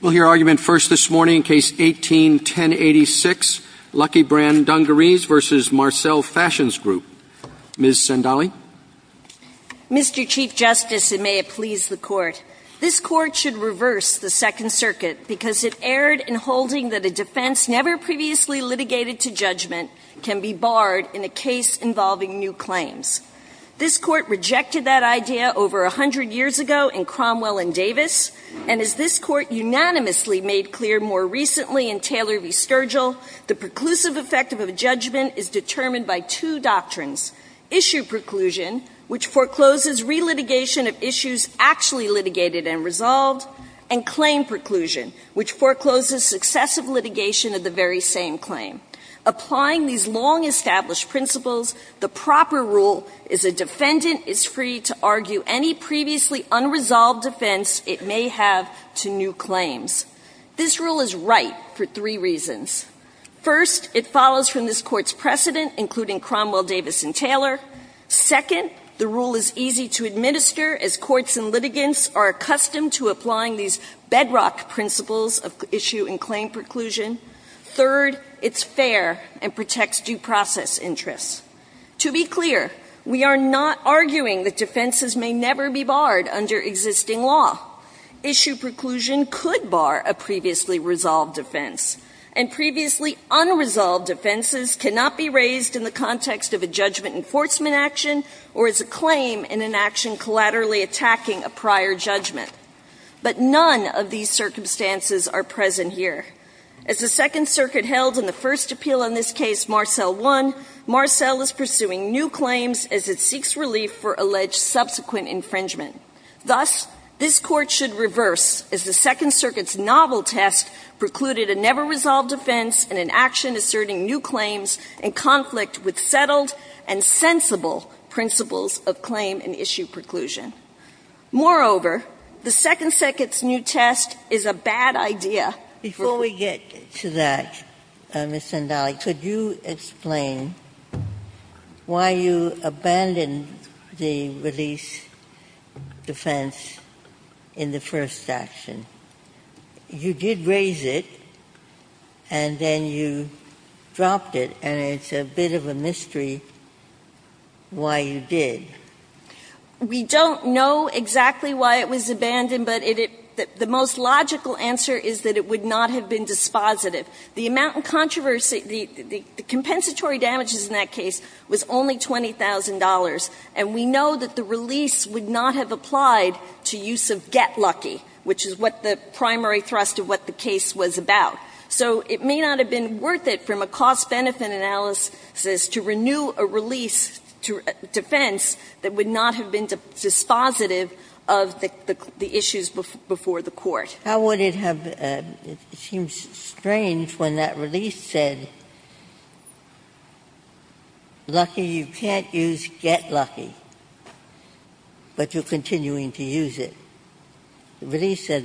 We'll hear argument first this morning, Case 18-1086, Lucky Brand Dungarees v. Marcel Fashions Group. Ms. Sendali. Mr. Chief Justice, and may it please the Court, this Court should reverse the Second Circuit because it erred in holding that a defense never previously litigated to judgment can be barred in a case involving new claims. This Court rejected that idea over a hundred years ago in Cromwell and Davis, and as this Court unanimously made clear more recently in Taylor v. Sturgill, the preclusive effect of a judgment is determined by two doctrines, issue preclusion, which forecloses relitigation of issues actually litigated and resolved, and claim preclusion, which forecloses successive litigation of the very same claim. Applying these long-established principles, the proper rule is a defendant is free to issue claims. This rule is right for three reasons. First, it follows from this Court's precedent, including Cromwell, Davis, and Taylor. Second, the rule is easy to administer as courts and litigants are accustomed to applying these bedrock principles of issue and claim preclusion. Third, it's fair and protects due process interests. To be clear, we are not arguing that defenses may never be barred under existing law. Issue preclusion could bar a previously resolved offense, and previously unresolved offenses cannot be raised in the context of a judgment enforcement action or as a claim in an action collaterally attacking a prior judgment. But none of these circumstances are present here. As the Second Circuit held in the first appeal on this case, Marcell I, Marcell is pursuing new claims as it seeks relief for alleged subsequent infringement. Thus, this Court should reverse, as the Second Circuit's novel test precluded a never-resolved offense in an action asserting new claims in conflict with settled and sensible principles of claim and issue preclusion. Moreover, the Second Circuit's new test is a bad idea for the Court. to that, Ms. Zandali. Could you explain why you abandoned the release defense in the first action? You did raise it, and then you dropped it and it's a bit of a mystery why you did. We don't know exactly why it was abandoned, but the most logical answer is that it would not have been dispositive. The amount of controversy, the compensatory damages in that case was only $20,000, and we know that the release would not have applied to use of get lucky, which is what the primary thrust of what the case was about. So it may not have been worth it from a cost-benefit analysis to renew a release defense that would not have been dispositive of the issues before the Court. How would it have — it seems strange when that release said, Lucky, you can't use get lucky, but you're continuing to use it. The release said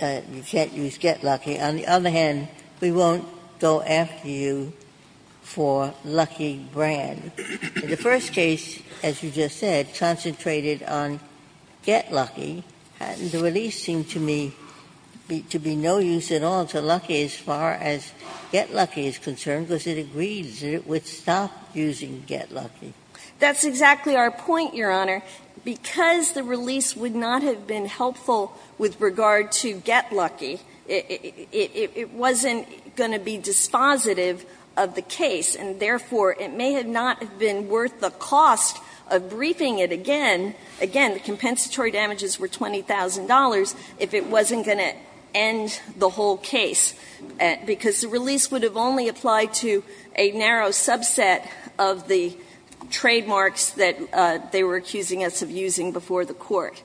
you can't use get lucky. On the other hand, we won't go after you for lucky brand. The first case, as you just said, concentrated on get lucky, and the release seemed to me to be no use at all to lucky as far as get lucky is concerned, because it agrees that it would stop using get lucky. That's exactly our point, Your Honor. Because the release would not have been helpful with regard to get lucky, it wasn't going to be dispositive of the case, and therefore, it may not have been worth the cost of briefing it again, again, the compensatory damages were $20,000, if it wasn't going to end the whole case, because the release would have only applied to a narrow subset of the trademarks that they were accusing us of using before the Court.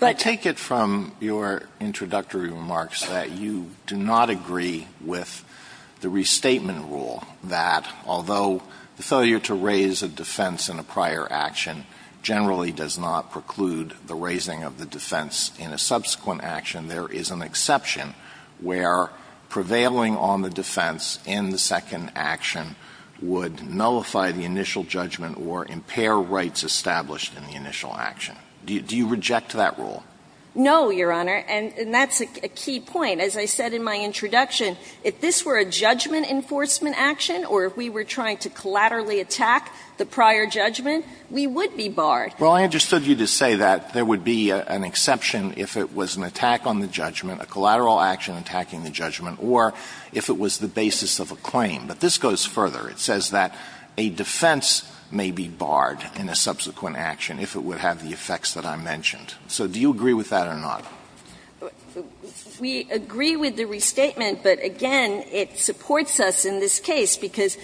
Alito, I take it from your introductory remarks that you do not agree with the restatement rule that, although the failure to raise a defense in a prior action generally does not preclude the raising of the defense in a subsequent action, there is an exception where prevailing on the defense in the second action would nullify the initial judgment or impair rights established in the initial action. Do you reject that rule? No, Your Honor, and that's a key point. As I said in my introduction, if this were a judgment enforcement action or if we were trying to collaterally attack the prior judgment, we would be barred. Well, I understood you to say that there would be an exception if it was an attack on the judgment, a collateral action attacking the judgment, or if it was the basis of a claim. But this goes further. It says that a defense may be barred in a subsequent action if it would have the effects that I mentioned. So do you agree with that or not? We agree with the restatement, but again, it supports us in this case because,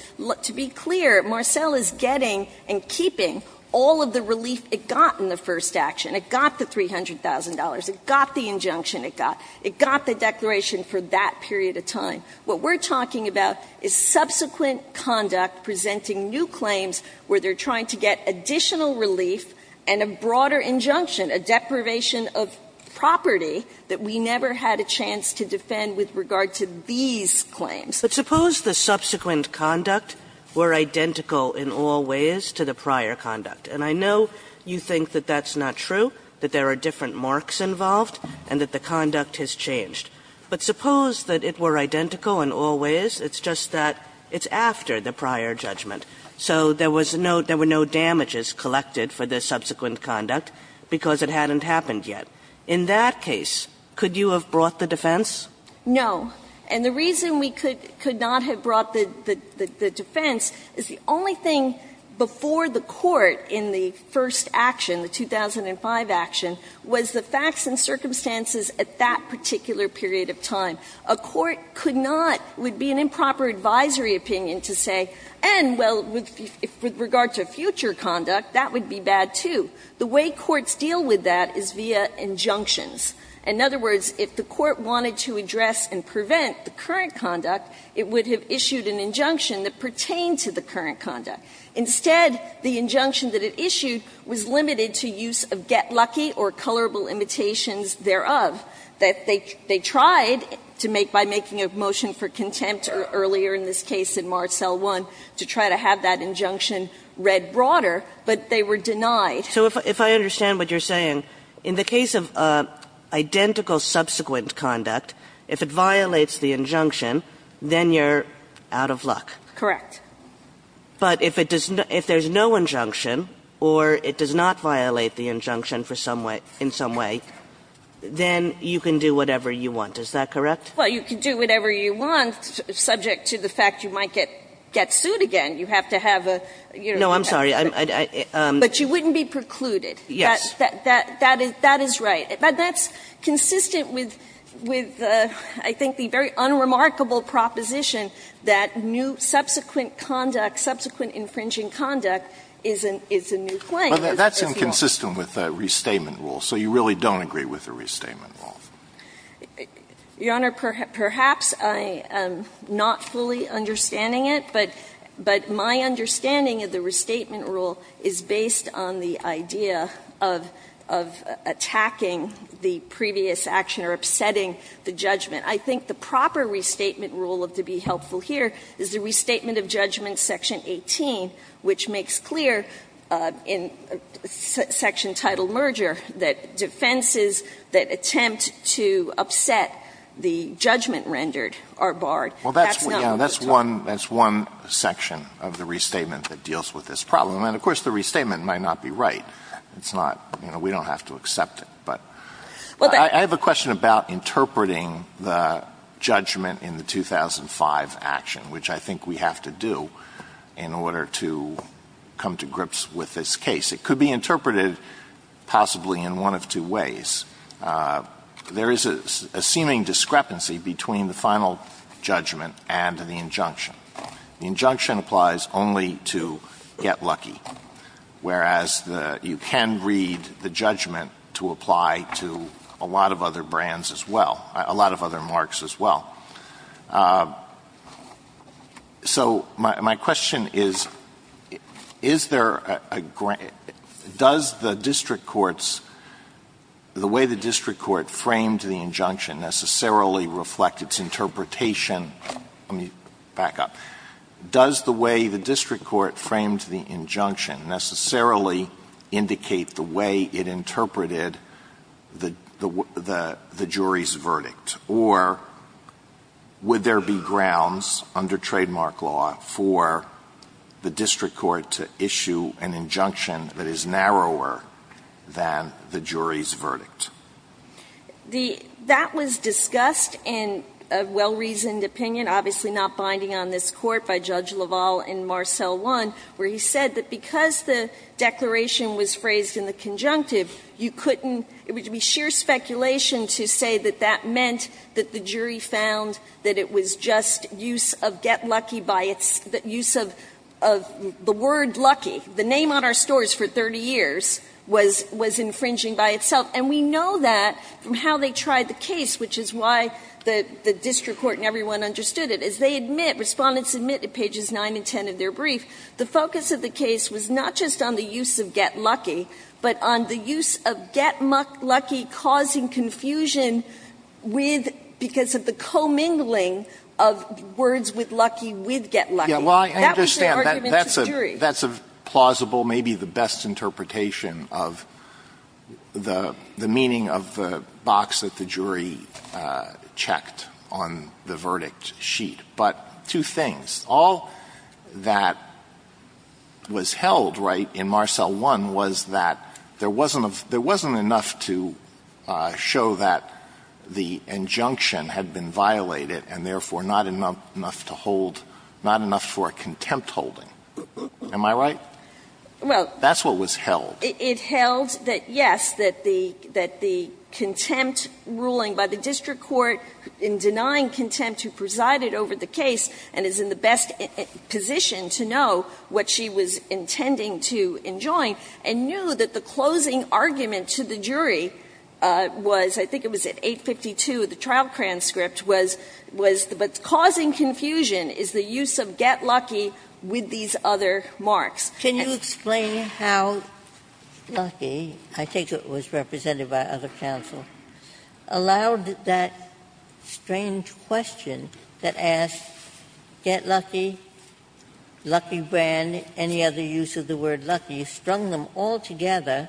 to be clear, Marcell is getting and keeping all of the relief it got in the first action. It got the $300,000. It got the injunction it got. It got the declaration for that period of time. What we're talking about is subsequent conduct presenting new claims where they're trying to get additional relief and a broader injunction, a deprivation of property that we never had a chance to defend with regard to these claims. Kagan. But suppose the subsequent conduct were identical in all ways to the prior conduct, and I know you think that that's not true, that there are different marks involved and that the conduct has changed. But suppose that it were identical in all ways, it's just that it's after the prior judgment. So there was no – there were no damages collected for the subsequent conduct because it hadn't happened yet. In that case, could you have brought the defense? No. And the reason we could not have brought the defense is the only thing before the Court in the first action, the 2005 action, was the facts and circumstances at that particular period of time. A court could not – would be an improper advisory opinion to say, and, well, with regard to future conduct, that would be bad, too. The way courts deal with that is via injunctions. In other words, if the Court wanted to address and prevent the current conduct, it would have issued an injunction that pertained to the current conduct. Instead, the injunction that it issued was limited to use of get lucky or colorable limitations thereof, that they tried to make by making a motion for contempt earlier in this case in Martel I to try to have that injunction read broader, but they were denied. So if I understand what you're saying, in the case of identical subsequent conduct, if it violates the injunction, then you're out of luck. Correct. But if it does – if there's no injunction or it does not violate the injunction for some way – in some way, then you can do whatever you want. Is that correct? Well, you can do whatever you want subject to the fact you might get sued again. You have to have a, you know, you have to have a – No, I'm sorry. I'm – I – I – But you wouldn't be precluded. Yes. That is right. But that's consistent with, I think, the very unremarkable proposition that new subsequent conduct, subsequent infringing conduct is a new claim. Well, that's inconsistent with the restatement rule, so you really don't agree with the restatement rule. Your Honor, perhaps I am not fully understanding it, but – but my understanding of the restatement rule is based on the idea of – of attacking the previous action or upsetting the judgment. I think the proper restatement rule to be helpful here is the restatement of judgment section 18, which makes clear in section title merger that defenses that attempt to upset the judgment rendered are barred. Well, that's one – that's one section of the restatement that deals with this problem. And, of course, the restatement might not be right. It's not – you know, we don't have to accept it. But I have a question about interpreting the judgment in the 2005 action, which I think we have to do in order to come to grips with this case. It could be interpreted possibly in one of two ways. There is a seeming discrepancy between the final judgment and the injunction. The injunction applies only to get lucky, whereas the – you can read the judgment to apply to a lot of other brands as well – a lot of other marks as well. So my question is, is there a – does the district court's – the way the district court framed the injunction necessarily reflect its interpretation – let me back up – does the way the district court framed the injunction necessarily indicate the way it interpreted the jury's verdict? Or would there be grounds under trademark law for the district court to issue an injunction that is narrower than the jury's verdict? The – that was discussed in a well-reasoned opinion, obviously not binding on this one, where he said that because the declaration was phrased in the conjunctive, you couldn't – it would be sheer speculation to say that that meant that the jury found that it was just use of get lucky by its – that use of the word lucky, the name on our stores for 30 years, was infringing by itself. And we know that from how they tried the case, which is why the district court and of their brief, the focus of the case was not just on the use of get lucky, but on the use of get lucky causing confusion with – because of the commingling of words with lucky with get lucky. That was their argument to the jury. Alito, that's a plausible, maybe the best interpretation of the meaning of the box that the jury checked on the verdict sheet. But two things. All that was held, right, in Marcell 1 was that there wasn't a – there wasn't enough to show that the injunction had been violated and therefore not enough to hold – not enough for contempt holding. Am I right? That's what was held. Well, it held that, yes, that the contempt ruling by the district court in denying contempt who presided over the case and is in the best position to know what she was intending to enjoin, and knew that the closing argument to the jury was, I think it was at 852, the trial transcript was, but causing confusion is the use of get lucky with these other marks. Ginsburg. Can you explain how lucky, I think it was represented by other counsel, allowed that strange question that asked get lucky, lucky brand, any other use of the word lucky, strung them all together,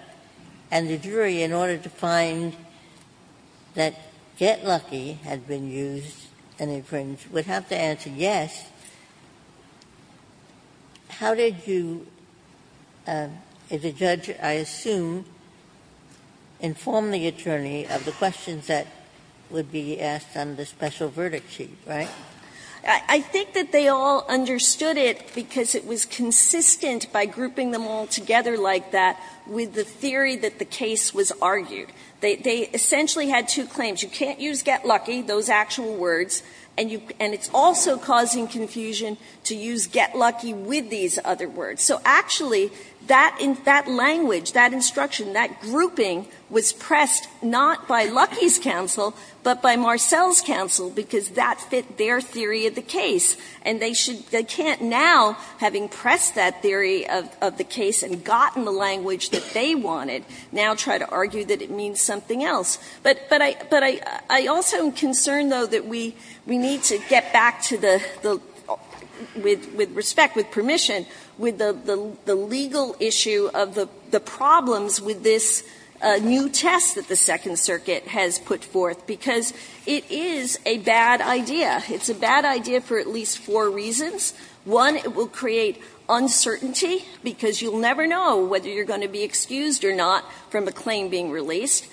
and the jury, in order to find that get lucky had been used and infringed, would have to answer yes. How did you, as a judge, I assume, inform the attorney of the questions that would be asked on the special verdict sheet, right? I think that they all understood it because it was consistent by grouping them all together like that with the theory that the case was argued. They essentially had two claims. You can't use get lucky, those actual words, and it's also causing confusion to use get lucky with these other words. So actually, that language, that instruction, that grouping was pressed not by Lucky's counsel, but by Marcell's counsel, because that fit their theory of the case. And they can't now, having pressed that theory of the case and gotten the language that they wanted, now try to argue that it means something else. But I also am concerned, though, that we need to get back to the, with respect, with permission, with the legal issue of the problems with this new test that the Second Circuit has put forth, because it is a bad idea. It's a bad idea for at least four reasons. One, it will create uncertainty, because you'll never know whether you're going to be excused or not from a claim being released,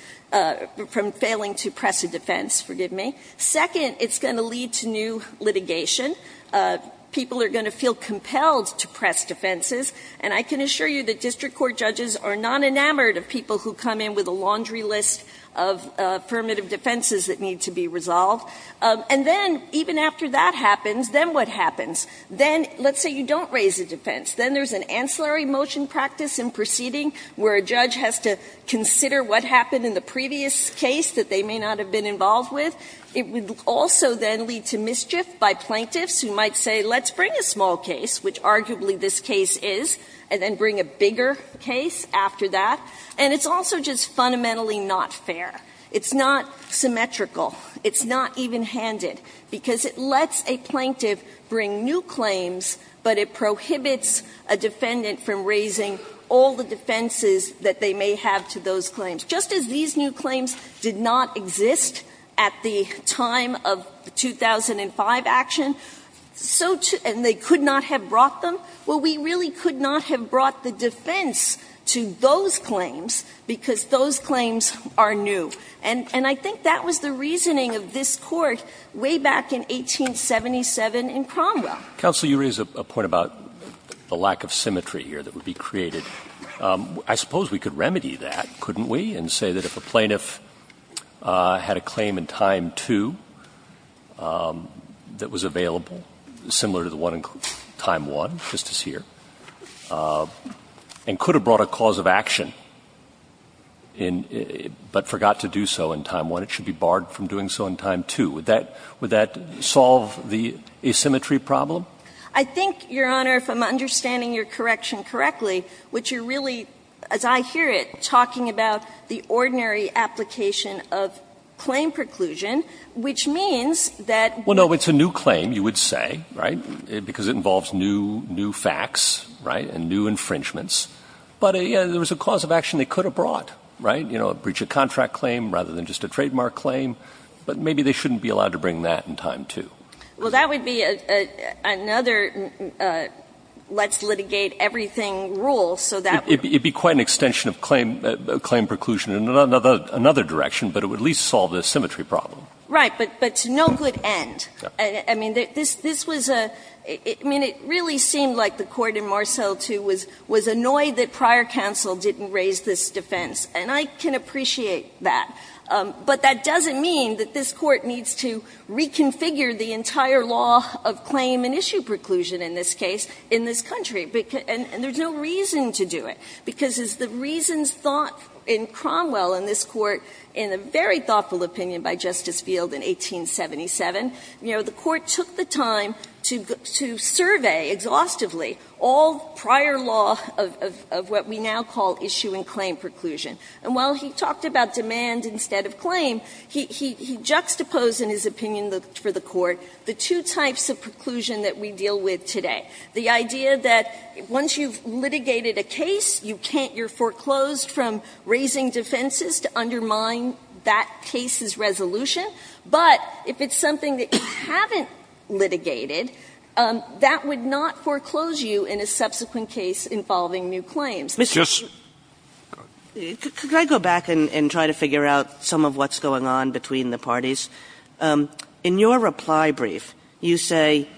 from failing to press a defense, forgive me. Second, it's going to lead to new litigation. People are going to feel compelled to press defenses. And I can assure you that district court judges are not enamored of people who come in with a laundry list of affirmative defenses that need to be resolved. And then, even after that happens, then what happens? Then, let's say you don't raise a defense. Then there's an ancillary motion practice in proceeding where a judge has to consider what happened in the previous case that they may not have been involved with. It would also then lead to mischief by plaintiffs who might say, let's bring a small case, which arguably this case is, and then bring a bigger case after that. And it's also just fundamentally not fair. It's not symmetrical. It's not even-handed, because it lets a plaintiff bring new claims, but it prohibits a defendant from raising all the defenses that they may have to those claims. Just as these new claims did not exist at the time of the 2005 action, so too – and they could not have brought them. Well, we really could not have brought the defense to those claims, because those claims are new. And I think that was the reasoning of this Court way back in 1877 in Cromwell. Counsel, you raise a point about the lack of symmetry here that would be created. I suppose we could remedy that, couldn't we, and say that if a plaintiff had a claim in time 2 that was available, similar to the one in time 1, just as here, and could have brought a cause of action, but forgot to do so in time 1, it should be barred from doing so in time 2. Would that solve the asymmetry problem? I think, Your Honor, if I'm understanding your correction correctly, which you're really, as I hear it, talking about the ordinary application of claim preclusion, which means that – Well, no. It's a new claim, you would say, right, because it involves new facts, right, and new infringements. But, yes, there was a cause of action they could have brought, right? You know, a breach of contract claim rather than just a trademark claim. But maybe they shouldn't be allowed to bring that in time 2. Well, that would be another let's litigate everything rule, so that would be quite an extension of claim preclusion in another direction, but it would at least solve the asymmetry problem. Right, but to no good end. I mean, this was a – I mean, it really seemed like the Court in Marceau 2 was annoyed that prior counsel didn't raise this defense, and I can appreciate that. But that doesn't mean that this Court needs to reconfigure the entire law of claim and issue preclusion in this case in this country, and there's no reason to do it. Because as the reasons thought in Cromwell in this Court, in a very thoughtful opinion by Justice Field in 1877, you know, the Court took the time to survey exhaustively all prior law of what we now call issue and claim preclusion. And while he talked about demand instead of claim, he juxtaposed in his opinion for the Court the two types of preclusion that we deal with today. The idea that once you've litigated a case, you can't – you're foreclosed from raising defenses to undermine that case's resolution. But if it's something that you haven't litigated, that would not foreclose you in a subsequent case involving new claims. Kagan. Kagan. Could I go back and try to figure out some of what's going on between the parties? In your reply brief, you say,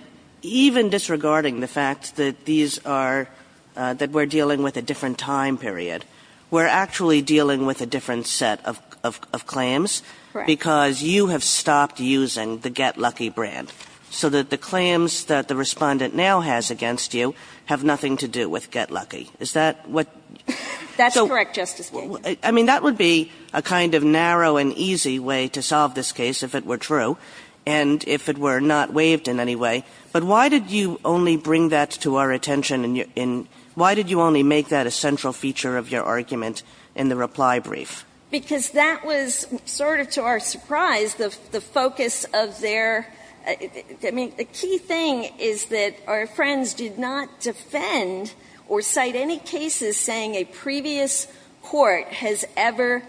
even disregarding the fact that these are – that we're dealing with a different time period, we're actually dealing with a different set of claims because you have stopped using the Get Lucky brand, so that the claims that the Respondent now has against you have nothing to do with Get Lucky. Is that what – That's correct, Justice Kagan. I mean, that would be a kind of narrow and easy way to solve this case if it were true and if it were not waived in any way. But why did you only bring that to our attention in – why did you only make that a central feature of your argument in the reply brief? Because that was sort of to our surprise, the focus of their – I mean, the key thing is that our friends did not defend or cite any cases saying a previous court has ever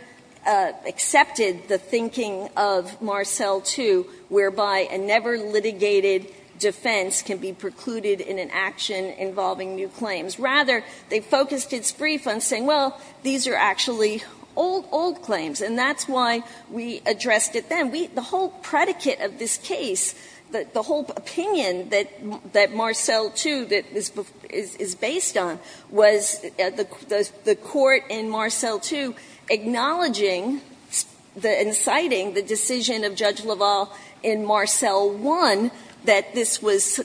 accepted the thinking of Marcell II, whereby a never-litigated defense can be precluded in an action involving new claims. Rather, they focused its brief on saying, well, these are actually old, old claims, and that's why we addressed it then. And we – the whole predicate of this case, the whole opinion that Marcell II is based on, was the court in Marcell II acknowledging and citing the decision of Judge LaValle in Marcell I that this was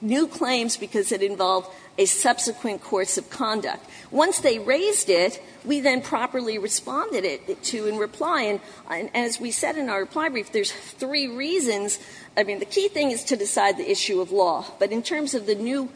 new claims because it involved a subsequent course of conduct. Once they raised it, we then properly responded it to in reply. And as we said in our reply brief, there's three reasons. I mean, the key thing is to decide the issue of law. But in terms of the new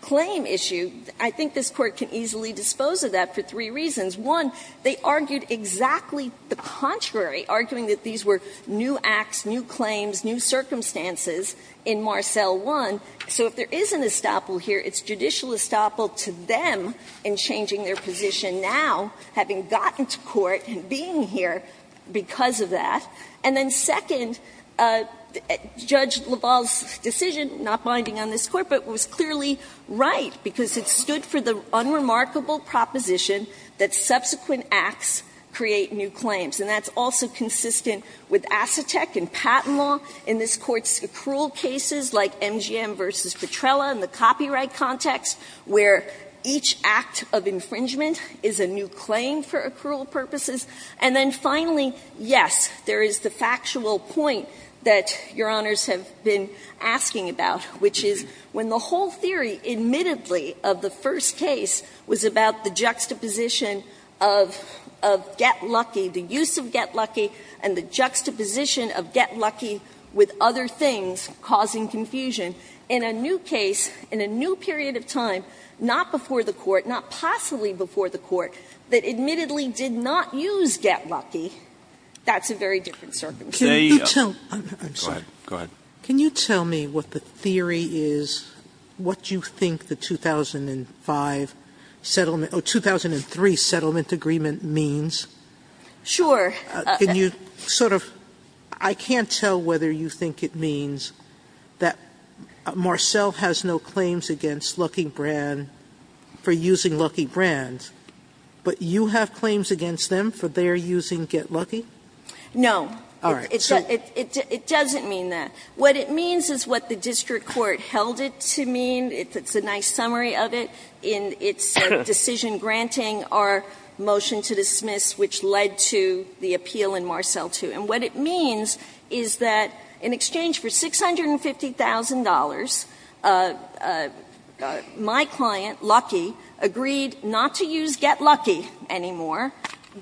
claim issue, I think this Court can easily dispose of that for three reasons. One, they argued exactly the contrary, arguing that these were new acts, new claims, new circumstances in Marcell I. So if there is an estoppel here, it's judicial estoppel to them in changing their position because of that. And then second, Judge LaValle's decision, not binding on this Court, but it was clearly right because it stood for the unremarkable proposition that subsequent acts create new claims. And that's also consistent with Assatec and Patent Law in this Court's accrual cases, like MGM v. Petrella in the copyright context, where each act of infringement is a new claim for accrual purposes. And then finally, yes, there is the factual point that Your Honors have been asking about, which is when the whole theory, admittedly, of the first case was about the juxtaposition of get lucky, the use of get lucky, and the juxtaposition of get lucky with other things causing confusion, in a new case, in a new period of time, not before the Court, not possibly before the Court, that admittedly did not use get lucky, that's a very different circumstance. Sotomayor, I'm sorry. Can you tell me what the theory is, what you think the 2005 settlement or 2003 settlement agreement means? Sure. Can you sort of – I can't tell whether you think it means that Marcell has no claims against Lucky Brand for using Lucky Brand, but you have claims against them for their using get lucky? No. All right. It doesn't mean that. What it means is what the district court held it to mean. It's a nice summary of it in its decision granting our motion to dismiss, which led to the appeal in Marcell 2. And what it means is that in exchange for $650,000, my client, Lucky, agreed not to use get lucky anymore,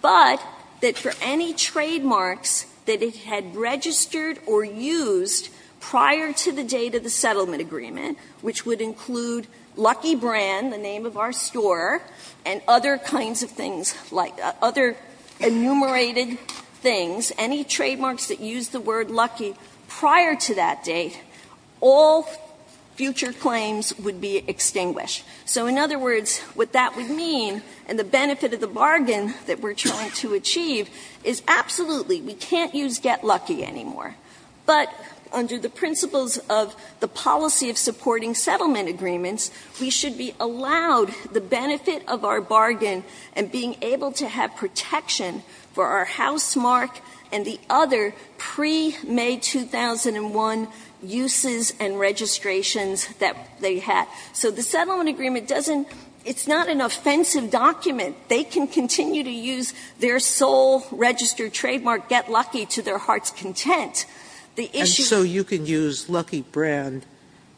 but that for any trademarks that it had registered or used prior to the date of the settlement agreement, which would include Lucky Brand, the name of our store, and other kinds of things, other enumerated things, any trademarks that used the word lucky prior to that date, all future claims would be extinguished. So in other words, what that would mean, and the benefit of the bargain that we're trying to achieve, is absolutely we can't use get lucky anymore. But under the principles of the policy of supporting settlement agreements, we should be allowed the benefit of our bargain and being able to have protection for our house mark and the other pre-May 2001 uses and registrations that they had. So the settlement agreement doesn't, it's not an offensive document. They can continue to use their sole registered trademark, get lucky, to their heart's content. The issue- Sotomayor So you can use Lucky Brand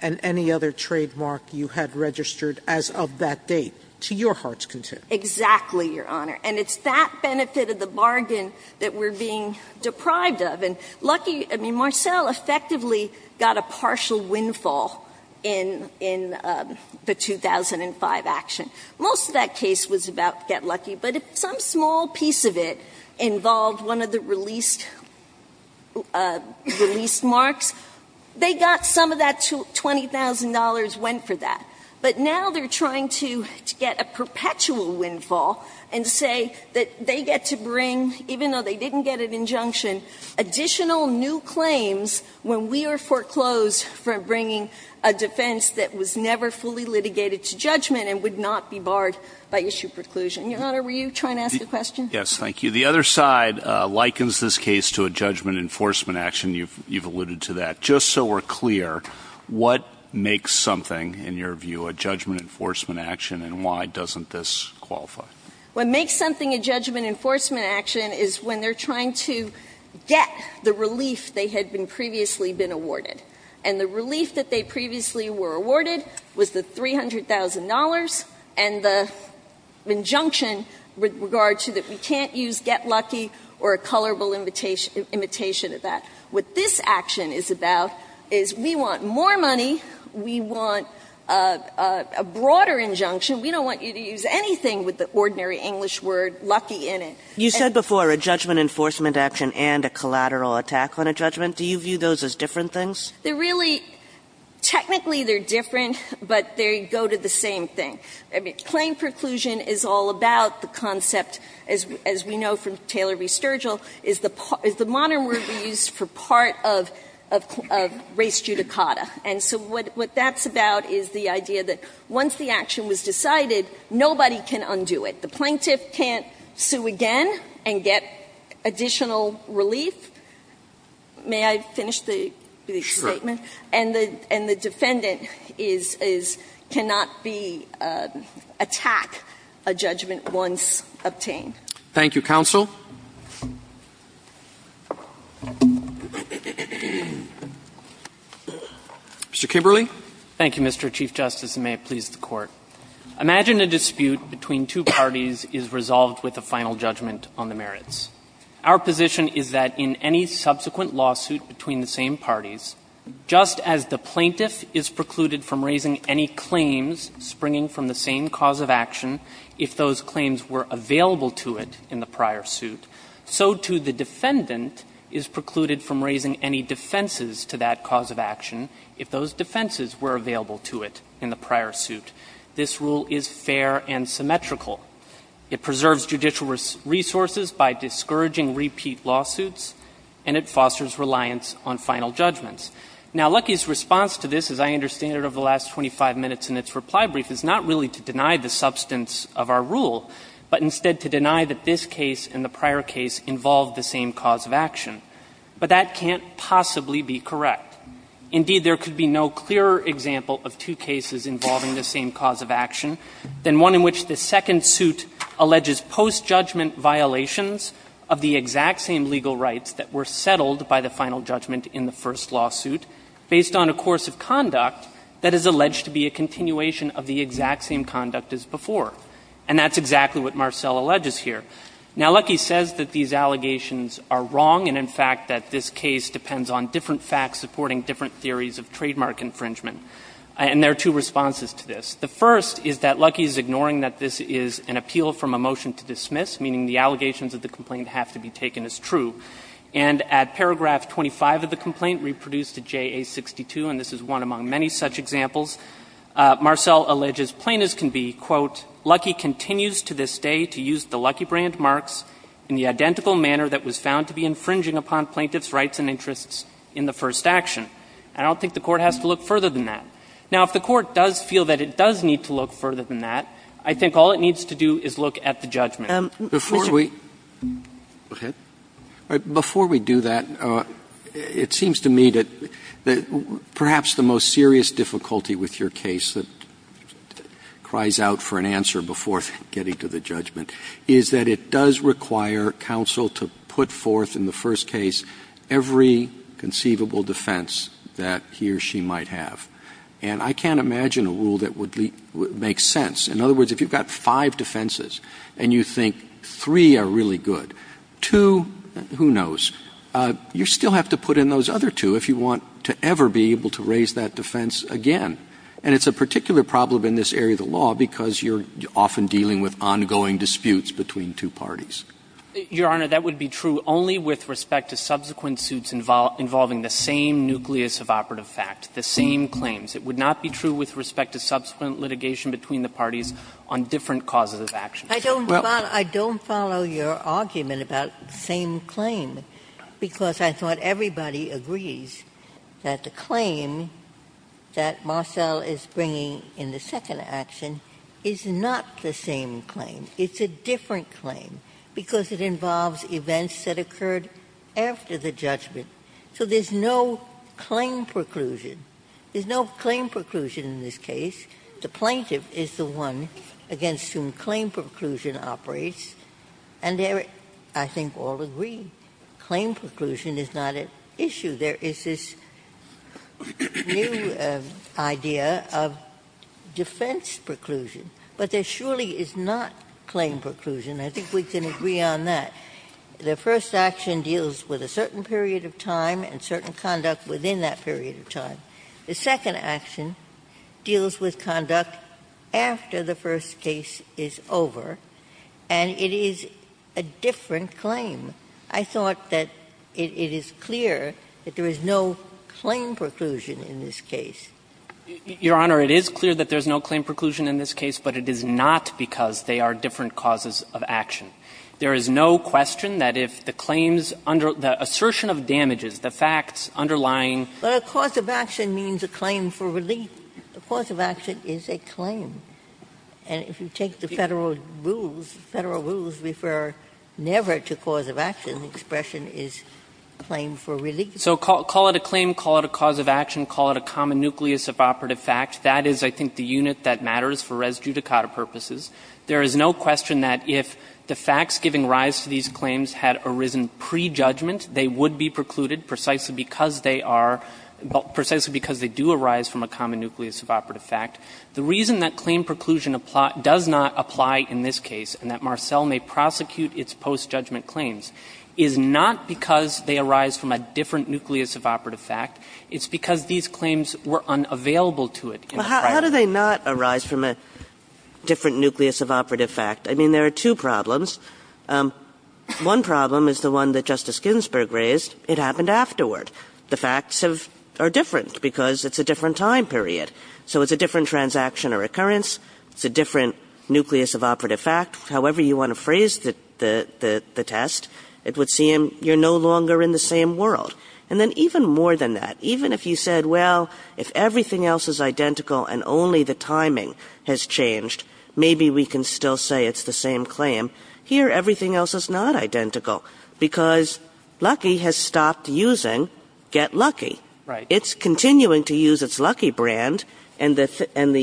and any other trademark you had registered as of that date, to your heart's content. Exactly, Your Honor, and it's that benefit of the bargain that we're being deprived of, and Lucky, I mean, Marcell effectively got a partial windfall in the 2005 action. Most of that case was about get lucky, but if some small piece of it involved one of the released marks, they got some of that $20,000, went for that. But now they're trying to get a perpetual windfall and say that they get to bring, even though they didn't get an injunction, additional new claims when we are foreclosed for bringing a defense that was never fully litigated to judgment and would not be barred by issue preclusion. Your Honor, were you trying to ask a question? Yes, thank you. The other side likens this case to a judgment enforcement action. You've alluded to that. Just so we're clear, what makes something, in your view, a judgment enforcement action, and why doesn't this qualify? What makes something a judgment enforcement action is when they're trying to get the relief they had been previously been awarded. And the relief that they previously were awarded was the $300,000 and the injunction with regard to that we can't use get lucky or a colorable imitation of that. What this action is about is we want more money, we want a broader injunction. We don't want you to use anything with the ordinary English word lucky in it. You said before a judgment enforcement action and a collateral attack on a judgment. Do you view those as different things? They're really ‑‑ technically they're different, but they go to the same thing. Claim preclusion is all about the concept, as we know from Taylor v. Sturgill, is the modern word we use for part of race judicata. And so what that's about is the idea that once the action was decided, nobody can undo it. The plaintiff can't sue again and get additional relief. May I finish the statement? And the defendant is ‑‑ cannot be ‑‑ attack a judgment once obtained. Thank you, counsel. Mr. Kimberly. Thank you, Mr. Chief Justice, and may it please the Court. Imagine a dispute between two parties is resolved with a final judgment on the merits. Our position is that in any subsequent lawsuit between the same parties, just as the plaintiff is precluded from raising any claims springing from the same cause of action if those claims were available to it in the prior suit, so too the defendant is precluded from raising any defenses to that cause of action if those defenses were available to it in the prior suit. This rule is fair and symmetrical. It preserves judicial resources by discouraging repeat lawsuits, and it fosters reliance on final judgments. Now, Luckey's response to this, as I understand it over the last 25 minutes in its reply brief, is not really to deny the substance of our rule, but instead to deny that this case and the prior case involved the same cause of action. But that can't possibly be correct. Indeed, there could be no clearer example of two cases involving the same cause of action than one in which the second suit alleges post-judgment violations of the exact same legal rights that were settled by the final judgment in the first lawsuit, based on a course of conduct that is alleged to be a continuation of the exact same conduct as before. And that's exactly what Marcel alleges here. Now, Luckey says that these allegations are wrong and, in fact, that this case depends on different facts supporting different theories of trademark infringement. And there are two responses to this. The first is that Luckey is ignoring that this is an appeal from a motion to dismiss, meaning the allegations of the complaint have to be taken as true. And at paragraph 25 of the complaint reproduced at JA62, and this is one among many such examples, Marcel alleges plaintiffs can be, quote, ''Luckey continues to this day to use the Luckey brand marks in the identical manner that was found to be infringing upon plaintiffs' rights and interests in the first action.'' I don't think the Court has to look further than that. Now, if the Court does feel that it does need to look further than that, I think all it needs to do is look at the judgment. Roberts. Before we do that, it seems to me that perhaps the most serious difficulty with your case that cries out for an answer before getting to the judgment is that it does require counsel to put forth in the first case every conceivable defense that he or she might have. And I can't imagine a rule that would make sense. In other words, if you've got five defenses and you think three are really good, two, who knows, you still have to put in those other two if you want to ever be able to raise that defense again. And it's a particular problem in this area of the law because you're often dealing with ongoing disputes between two parties. Your Honor, that would be true only with respect to subsequent suits involving the same nucleus of operative fact, the same claims. It would not be true with respect to subsequent litigation between the parties on different causes of action. Ginsburg. I don't follow your argument about the same claim, because I thought everybody agrees that the claim that Marcell is bringing in the second action is not the same claim. It's a different claim, because it involves events that occurred after the judgment. So there's no claim preclusion. There's no claim preclusion in this case. The plaintiff is the one against whom claim preclusion operates, and there, I think, all agree claim preclusion is not an issue. There is this new idea of defense preclusion, but there surely is not claim preclusion. I think we can agree on that. The first action deals with a certain period of time and certain conduct within that period of time. The second action deals with conduct after the first case is over, and it is a different claim. I thought that it is clear that there is no claim preclusion in this case. Your Honor, it is clear that there is no claim preclusion in this case, but it is not because they are different causes of action. There is no question that if the claims under the assertion of damages, the facts underlying. Ginsburg. But a cause of action means a claim for relief. A cause of action is a claim. And if you take the Federal rules, Federal rules refer never to cause of action. The expression is claim for relief. So call it a claim, call it a cause of action, call it a common nucleus of operative fact. That is, I think, the unit that matters for res judicata purposes. There is no question that if the facts giving rise to these claims had arisen pre-judgment, they would be precluded precisely because they are – precisely because they do arise from a common nucleus of operative fact. The reason that claim preclusion does not apply in this case and that Marcell may prosecute its post-judgment claims is not because they arise from a different nucleus of operative fact. But how do they not arise from a different nucleus of operative fact? I mean, there are two problems. One problem is the one that Justice Ginsburg raised. It happened afterward. The facts have – are different because it's a different time period. So it's a different transaction or occurrence. It's a different nucleus of operative fact. However you want to phrase the – the test, it would seem you're no longer in the same world. And then even more than that, even if you said, well, if everything else is identical and only the timing has changed, maybe we can still say it's the same claim. Here, everything else is not identical because Lucky has stopped using Get Lucky. Right. It's continuing to use its Lucky brand, and the – and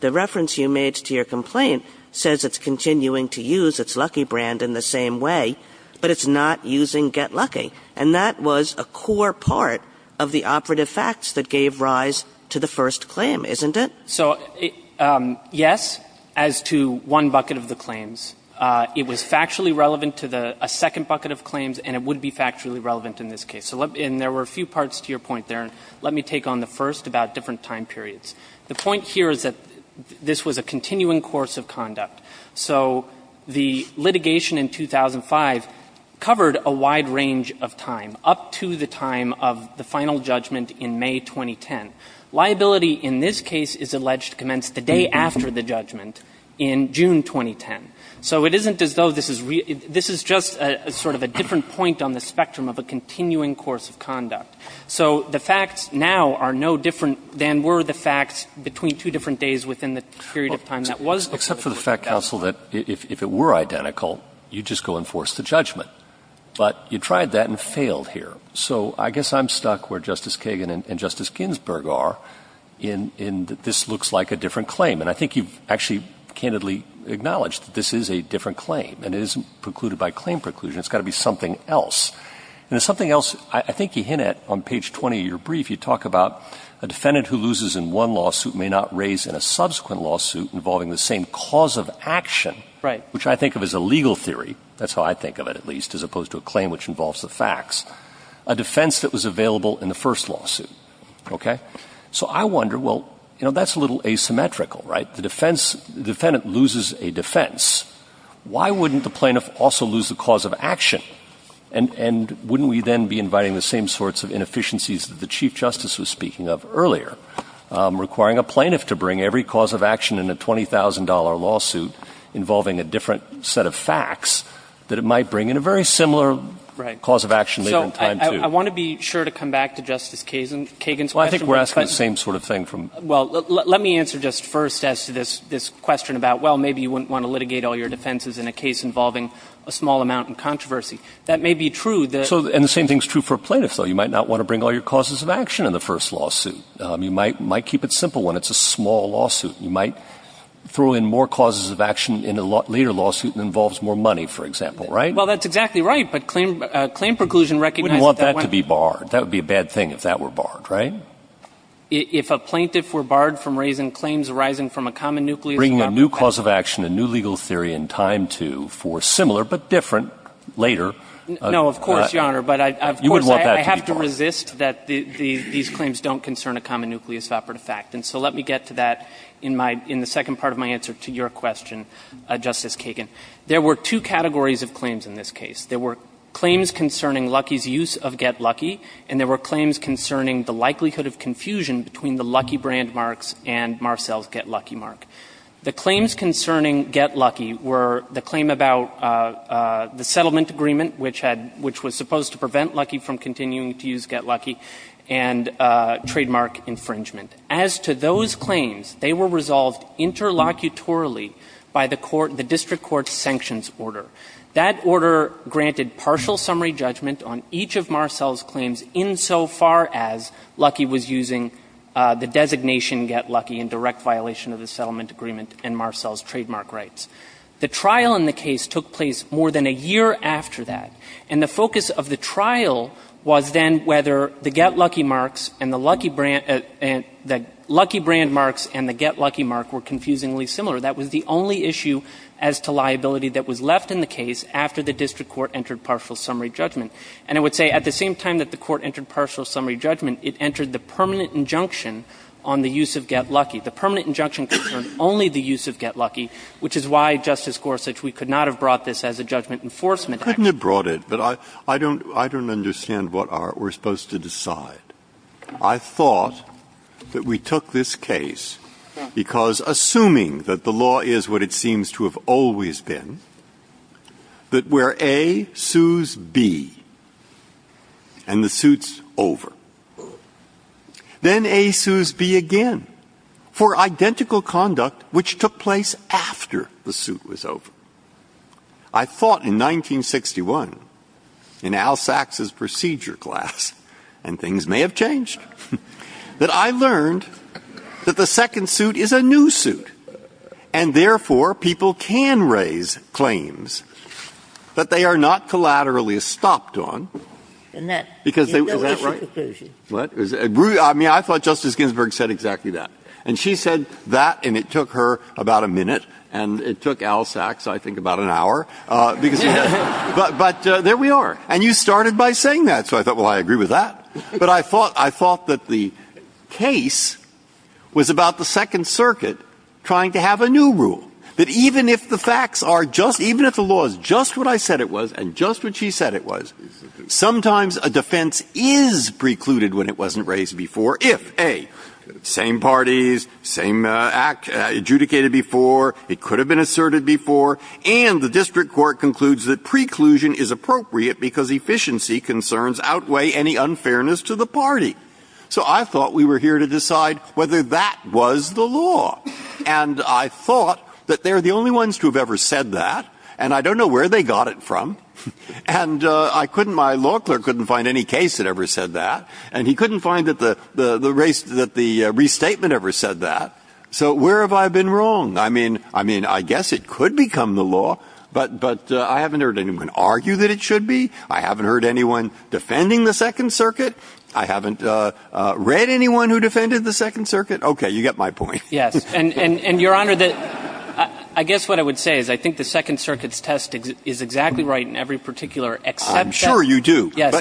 the reference you made to your complaint says it's continuing to use its Lucky brand in the same way, but it's not using Get Lucky. And that was a core part of the operative facts that gave rise to the first claim, isn't it? So, yes, as to one bucket of the claims. It was factually relevant to the – a second bucket of claims, and it would be factually relevant in this case. And there were a few parts to your point there. Let me take on the first about different time periods. The point here is that this was a continuing course of conduct. So the litigation in 2005 covered a wide range of time, up to the time of the final judgment in May 2010. Liability in this case is alleged to commence the day after the judgment in June 2010. So it isn't as though this is – this is just sort of a different point on the spectrum of a continuing course of conduct. So the facts now are no different than were the facts between two different days within the period of time that was the case. Except for the fact, counsel, that if it were identical, you'd just go and force the judgment. But you tried that and failed here. So I guess I'm stuck where Justice Kagan and Justice Ginsburg are in that this looks like a different claim. And I think you've actually candidly acknowledged that this is a different claim, and it isn't precluded by claim preclusion. It's got to be something else. And the something else – I think you hinted on page 20 of your brief, you talk about a defendant who loses in one lawsuit may not raise in a subsequent lawsuit involving the same cause of action, which I think of as a legal theory – that's how I think of it, at least, as opposed to a claim which involves the facts – a defense that was available in the first lawsuit, okay? So I wonder, well, you know, that's a little asymmetrical, right? The defense – the defendant loses a defense. Why wouldn't the plaintiff also lose the cause of action? And wouldn't we then be inviting the same sorts of inefficiencies that the Chief Justice was speaking of earlier, requiring a plaintiff to bring every cause of action in a $20,000 lawsuit involving a different set of facts, that it might bring in a very similar cause of action later in time, too? So I want to be sure to come back to Justice Kagan's question. Well, I think we're asking the same sort of thing from – Well, let me answer just first as to this question about, well, maybe you wouldn't want to litigate all your defenses in a case involving a small amount in controversy. That may be true that – And the same thing is true for plaintiffs, though. You might not want to bring all your causes of action in the first lawsuit. You might keep it simple when it's a small lawsuit. You might throw in more causes of action in a later lawsuit and it involves more money, for example, right? Well, that's exactly right. But claim preclusion recognizes that when – You wouldn't want that to be barred. That would be a bad thing if that were barred, right? If a plaintiff were barred from raising claims arising from a common nucleus of operative fact – Bringing a new cause of action, a new legal theory in time, too, for a similar but different later – No, of course, Your Honor. But of course, I have to resist that these claims don't concern a common nucleus of operative fact. And so let me get to that in my – in the second part of my answer to your question, Justice Kagan. There were two categories of claims in this case. There were claims concerning Luckey's use of Get Luckey and there were claims concerning the likelihood of confusion between the Luckey brand marks and Marcell's Get Luckey mark. The claims concerning Get Luckey were the claim about the settlement agreement, which had – which was supposed to prevent Luckey from continuing to use Get Luckey, and trademark infringement. As to those claims, they were resolved interlocutorily by the court – the district court's sanctions order. That order granted partial summary judgment on each of Marcell's claims insofar as Luckey was using the designation Get Luckey in direct violation of the settlement agreement and Marcell's trademark rights. The trial in the case took place more than a year after that, and the focus of the Luckey brand marks and the Get Luckey mark were confusingly similar. That was the only issue as to liability that was left in the case after the district court entered partial summary judgment. And I would say at the same time that the court entered partial summary judgment, it entered the permanent injunction on the use of Get Luckey. The permanent injunction concerned only the use of Get Luckey, which is why, Justice Gorsuch, we could not have brought this as a judgment enforcement action. Breyer. Couldn't have brought it, but I don't – I don't understand what our – we're supposed to decide. I thought that we took this case because, assuming that the law is what it seems to have always been, that where A sues B and the suit's over, then A sues B again for identical conduct which took place after the suit was over. I thought in 1961, in Al Sachs's procedure class, and things may have changed, that I learned that the second suit is a new suit, and therefore people can raise claims, but they are not collaterally stopped on. Because they – is that right? What? I mean, I thought Justice Ginsburg said exactly that. And she said that, and it took her about a minute, and it took Al Sachs, I think, about an hour, because he doesn't – but there we are. And you started by saying that, so I thought, well, I agree with that. But I thought – I thought that the case was about the Second Circuit trying to have a new rule, that even if the facts are just – even if the law is just what I said it was and just what she said it was, sometimes a defense is precluded when it wasn't raised before if, A, same parties, same act adjudicated before, it could have been asserted before, and the district court concludes that preclusion is appropriate because efficiency concerns outweigh any unfairness to the party. So I thought we were here to decide whether that was the law, and I thought that they are the only ones to have ever said that, and I don't know where they got it from. And I couldn't – my law clerk couldn't find any case that ever said that, and he couldn't find that the restatement ever said that, so where have I been wrong? I mean, I mean, I guess it could become the law, but I haven't heard anyone argue that it should be. I haven't heard anyone defending the Second Circuit. I haven't read anyone who defended the Second Circuit. Okay, you get my point. Yes, and, Your Honor, I guess what I would say is I think the Second Circuit's test is exactly right in every particular exception. I'm sure you do. Yes,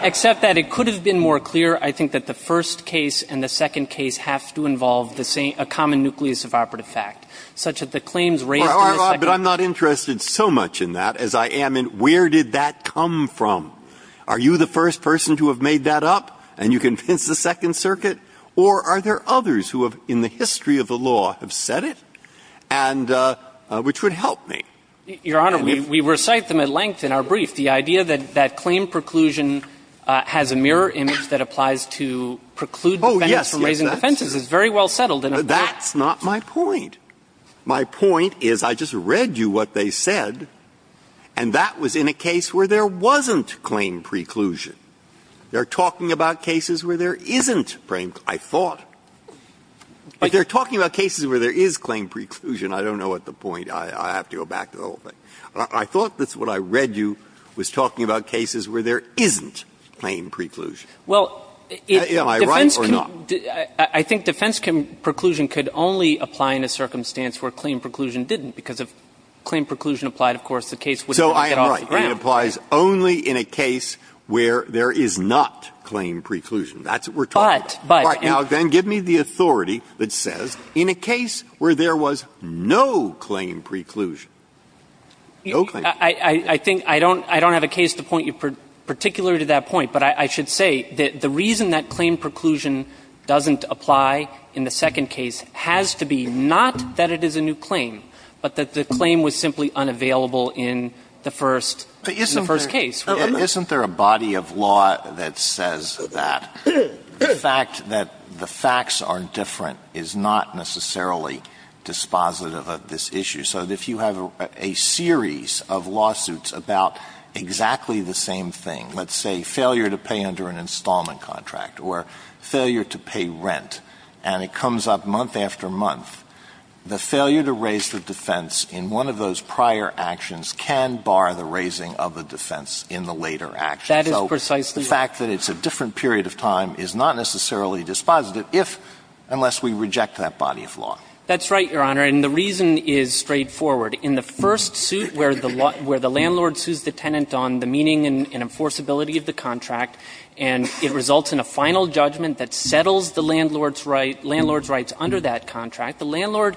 except that it could have been more clear, I think, that the first case and the second case have to involve the same – a common nucleus of operative fact, such as the claims raised in the Second Circuit. But I'm not interested so much in that as I am in where did that come from. Are you the first person to have made that up, and you convinced the Second Circuit, or are there others who have, in the history of the law, have said it, and – which would help me? Your Honor, we recite them at length in our brief. The idea that claim preclusion has a mirror image that applies to preclude defendants from raising defenses is very well settled in a fact. That's not my point. My point is I just read you what they said, and that was in a case where there wasn't claim preclusion. They're talking about cases where there isn't claim preclusion, I thought. But they're talking about cases where there is claim preclusion. I don't know what the point is. I have to go back to the whole thing. I thought that's what I read you was talking about cases where there isn't claim preclusion. Am I right or not? I think defense preclusion could only apply in a circumstance where claim preclusion didn't, because if claim preclusion applied, of course, the case wouldn't get off the ground. So I am right. It applies only in a case where there is not claim preclusion. That's what we're talking about. But – but – I think I don't – I don't have a case to point you particularly to that point. But I should say that the reason that claim preclusion doesn't apply in the second case has to be not that it is a new claim, but that the claim was simply unavailable in the first – in the first case. Alito, isn't there a body of law that says that the fact that the facts are different is not necessarily dispositive of this issue? So if you have a series of lawsuits about exactly the same thing, let's say failure to pay under an installment contract or failure to pay rent, and it comes up month after month, the failure to raise the defense in one of those prior actions can bar the raising of the defense in the later action. So the fact that it's a different period of time is not necessarily dispositive if – unless we reject that body of law. That's right, Your Honor. And the reason is straightforward. In the first suit where the – where the landlord sues the tenant on the meaning and enforceability of the contract, and it results in a final judgment that settles the landlord's right – landlord's rights under that contract, the landlord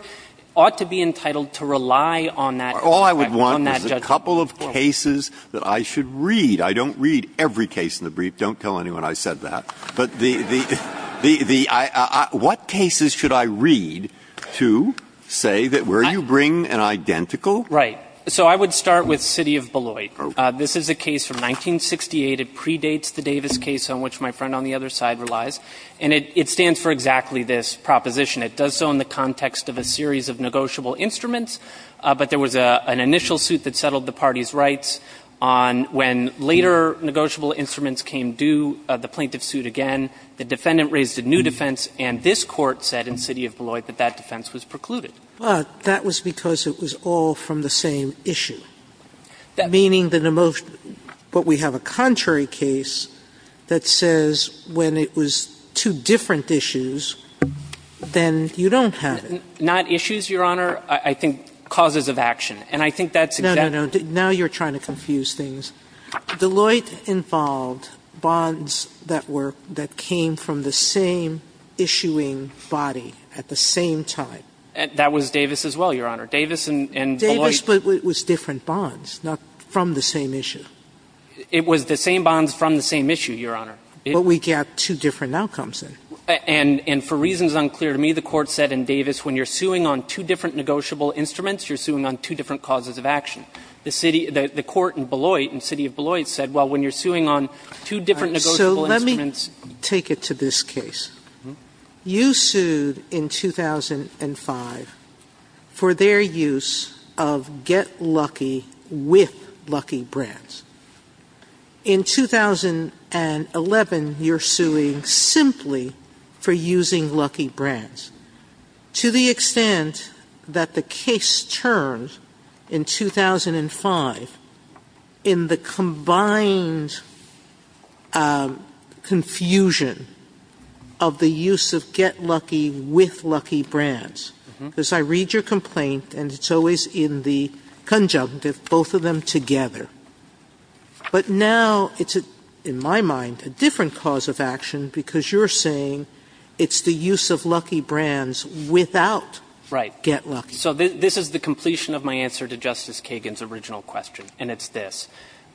ought to be entitled to rely on that – on that judgment. All I would want is a couple of cases that I should read. I don't read every case in the brief. Don't tell anyone I said that. But the – the – the – I – I – what cases should I read to say that where you bring an identical – Right. So I would start with City of Beloit. This is a case from 1968. It predates the Davis case on which my friend on the other side relies. And it – it stands for exactly this proposition. It does so in the context of a series of negotiable instruments, but there was an initial suit that settled the party's rights on when later negotiable instruments came due, the plaintiff sued again, the defendant raised a new defense, and this Court said in City of Beloit that that defense was precluded. Well, that was because it was all from the same issue, meaning that the most – but we have a contrary case that says when it was two different issues, then you don't have it. Not issues, Your Honor. I think causes of action, and I think that's exactly – No, no, no. Now you're trying to confuse things. Beloit involved bonds that were – that came from the same issuing body at the same time. That was Davis as well, Your Honor. Davis and Beloit. Davis, but it was different bonds, not from the same issue. It was the same bonds from the same issue, Your Honor. But we get two different outcomes. And for reasons unclear to me, the Court said in Davis when you're suing on two different negotiable instruments, you're suing on two different causes of action. The city – the court in Beloit, in the city of Beloit, said, well, when you're suing on two different negotiable instruments – So let me take it to this case. You sued in 2005 for their use of Get Lucky with Lucky Brands. In 2011, you're suing simply for using Lucky Brands. To the extent that the case turned in 2005 in the combined confusion of the use of Get Lucky with Lucky Brands – because I read your complaint, and it's always in the conjunctive, both of them together. But now it's, in my mind, a different cause of action because you're saying it's the use of Lucky Brands without Get Lucky. So this is the completion of my answer to Justice Kagan's original question, and it's this.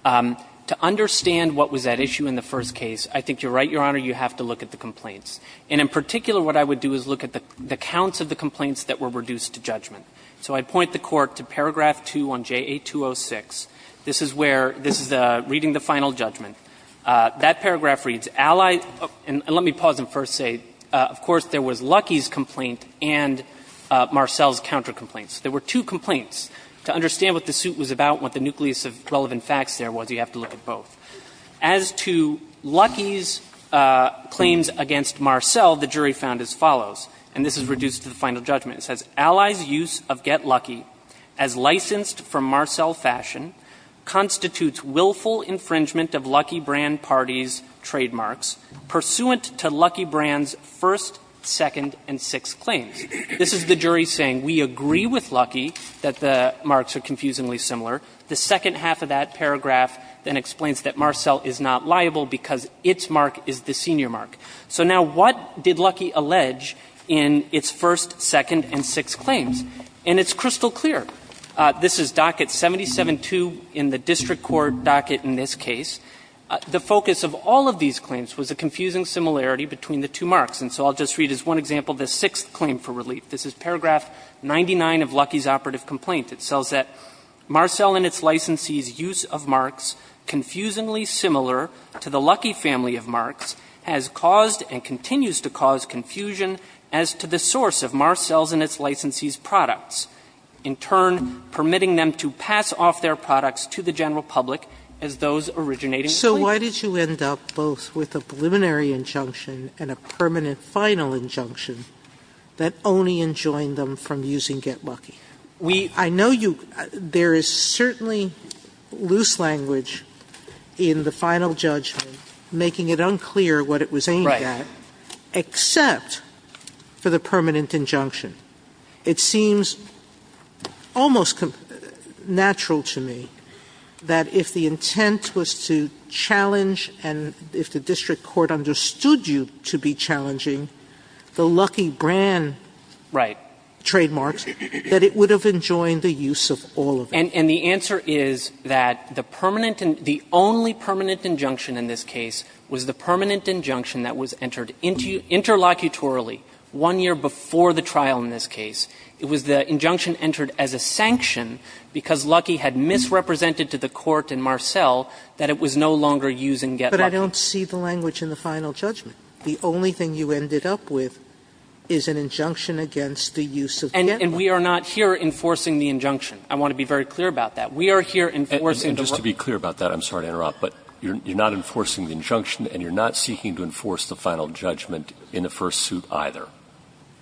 To understand what was at issue in the first case, I think you're right, Your Honor, you have to look at the complaints. And in particular, what I would do is look at the counts of the complaints that were reduced to judgment. So I point the Court to paragraph 2 on JA206. This is where – this is reading the final judgment. That paragraph reads, And let me pause and first say, of course, there was Lucky's complaint and Marcell's counter complaints. There were two complaints. To understand what the suit was about, what the nucleus of relevant facts there was, you have to look at both. As to Lucky's claims against Marcell, the jury found as follows, and this is reduced to the final judgment. It says, This is the jury saying, we agree with Lucky that the marks are confusingly similar. The second half of that paragraph then explains that Marcell is not liable because its mark is the senior mark. So now, what did Lucky allege in its first, second, and sixth claims? And it's crystal clear. This is docket 77-2 in the district court docket in this case. The focus of all of these claims was a confusing similarity between the two marks. And so I'll just read as one example the sixth claim for relief. This is paragraph 99 of Lucky's operative complaint. It tells that, Marcell and its licensee's use of marks confusingly similar to the Lucky family of marks has caused and continues to cause confusion as to the source of Marcell's and its licensee's products, in turn permitting them to pass off their products to the general public as those originating from Lucky. Sotomayor So why did you end up both with a preliminary injunction and a permanent final injunction that only enjoined them from using Get Lucky? I know you – there is certainly loose language in the final judgment making it unclear what it was aimed at, except for the permanent injunction. It seems almost natural to me that if the intent was to challenge and if the district court understood you to be challenging the Lucky brand trademarks, that it would have enjoined the use of all of them. And the answer is that the permanent – the only permanent injunction in this case was the permanent injunction that was entered interlocutorily one year before the trial in this case. It was the injunction entered as a sanction because Lucky had misrepresented to the court in Marcell that it was no longer using Get Lucky. Sotomayor But I don't see the language in the final judgment. The only thing you ended up with is an injunction against the use of Get Lucky. And we are not here enforcing the injunction. I want to be very clear about that. We are here enforcing the – Roberts Just to be clear about that, I'm sorry to interrupt, but you're not enforcing the injunction and you're not seeking to enforce the final judgment in the first suit either.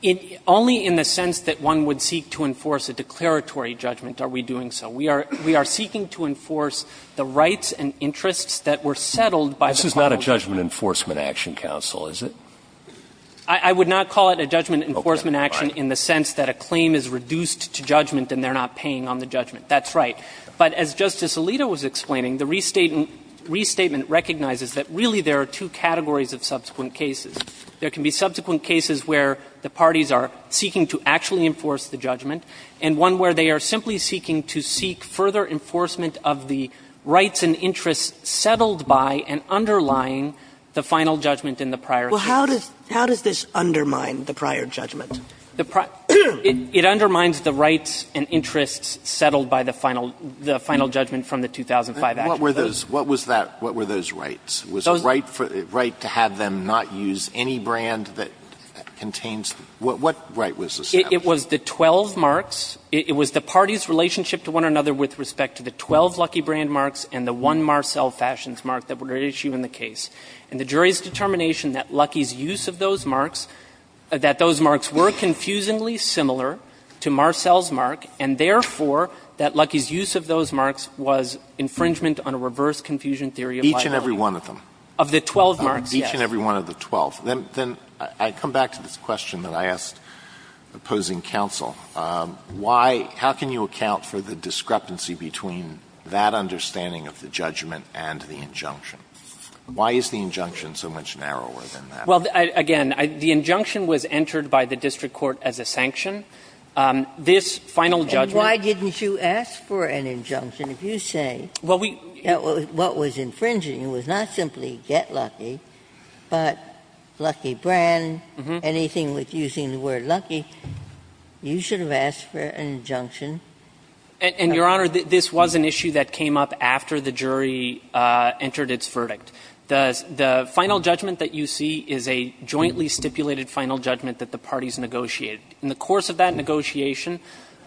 Jaffer Only in the sense that one would seek to enforce a declaratory judgment are we doing so. We are seeking to enforce the rights and interests that were settled by the Constitution. Scalia This is not a judgment enforcement action, counsel, is it? Jaffer I would not call it a judgment enforcement action in the sense that a claim is reduced to judgment and they're not paying on the judgment. That's right. But as Justice Alito was explaining, the restatement recognizes that really there are two categories of subsequent cases. There can be subsequent cases where the parties are seeking to actually enforce the judgment and one where they are simply seeking to seek further enforcement of the rights and interests settled by and underlying the final judgment in the prior case. Sotomayor Well, how does this undermine the prior judgment? Jaffer It undermines the rights and interests settled by the final judgment from the 2005 Act. Alito What were those rights? Was it a right to have them not use any brand that contains them? What right was established? Jaffer It was the 12 marks. It was the parties' relationship to one another with respect to the 12 Lucky brand marks and the one Marcell Fashions mark that were at issue in the case. And the jury's determination that Lucky's use of those marks, that those marks were confusingly similar to Marcell's mark, and therefore that Lucky's use of those marks was infringement on a reverse confusion theory of liability. Sotomayor Of the 12 marks, yes. Alito Of each and every one of the 12. Then I come back to this question that I asked opposing counsel. Why – how can you account for the discrepancy between that understanding of the judgment and the injunction? Why is the injunction so much narrower than that? Jaffer Well, again, the injunction was entered by the district court as a sanction. This final judgment – Ginsburg And why didn't you ask for an injunction if you say what was infringing was not simply Get Lucky, but Lucky brand, anything with using the word Lucky. You should have asked for an injunction. Jaffer And, Your Honor, this was an issue that came up after the jury entered its verdict. The final judgment that you see is a jointly stipulated final judgment that the parties negotiated. In the course of that negotiation,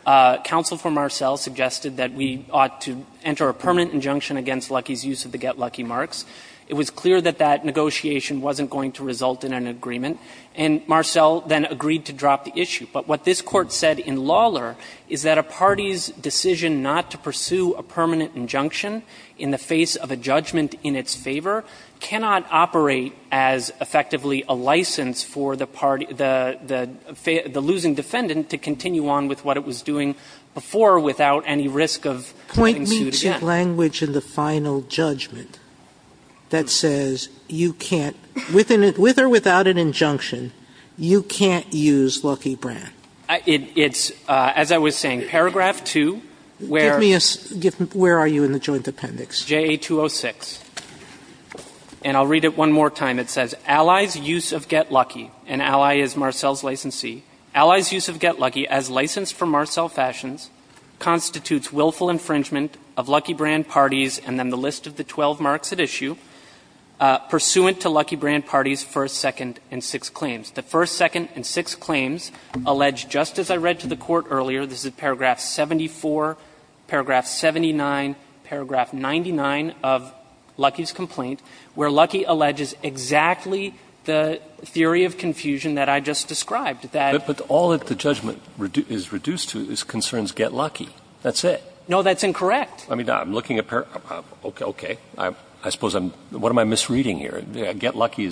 counsel for Marcell suggested that we ought to enter a permanent injunction against Lucky's use of the Get Lucky marks. It was clear that that negotiation wasn't going to result in an agreement. And Marcell then agreed to drop the issue. But what this Court said in Lawler is that a party's decision not to pursue a permanent injunction in the face of a judgment in its favor cannot operate as effectively a license for the party – the losing defendant to continue on with what it was doing before without any risk of having sued again. Sotomayor, is there any language in the final judgment that says you can't – with or without an injunction, you can't use Lucky brand? Jaffer It's – as I was saying, paragraph 2, where Sotomayor, give me a – where are you in the Joint Appendix? Jaffer JA-206. And I'll read it one more time. It says, Ally's use of Get Lucky – and Ally is Marcell's licensee – Ally's use of Get Lucky is in violation of Lucky brand parties, and then the list of the 12 marks at issue, pursuant to Lucky brand parties' first, second, and sixth claims. The first, second, and sixth claims allege, just as I read to the Court earlier, this is paragraph 74, paragraph 79, paragraph 99 of Lucky's complaint, where Lucky alleges exactly the theory of confusion that I just described, that Breyer But all that the judgment is reduced to is concerns Get Lucky. That's it. Jaffer No, that's incorrect. I mean, I'm looking at – okay. I suppose I'm – what am I misreading here? Get Lucky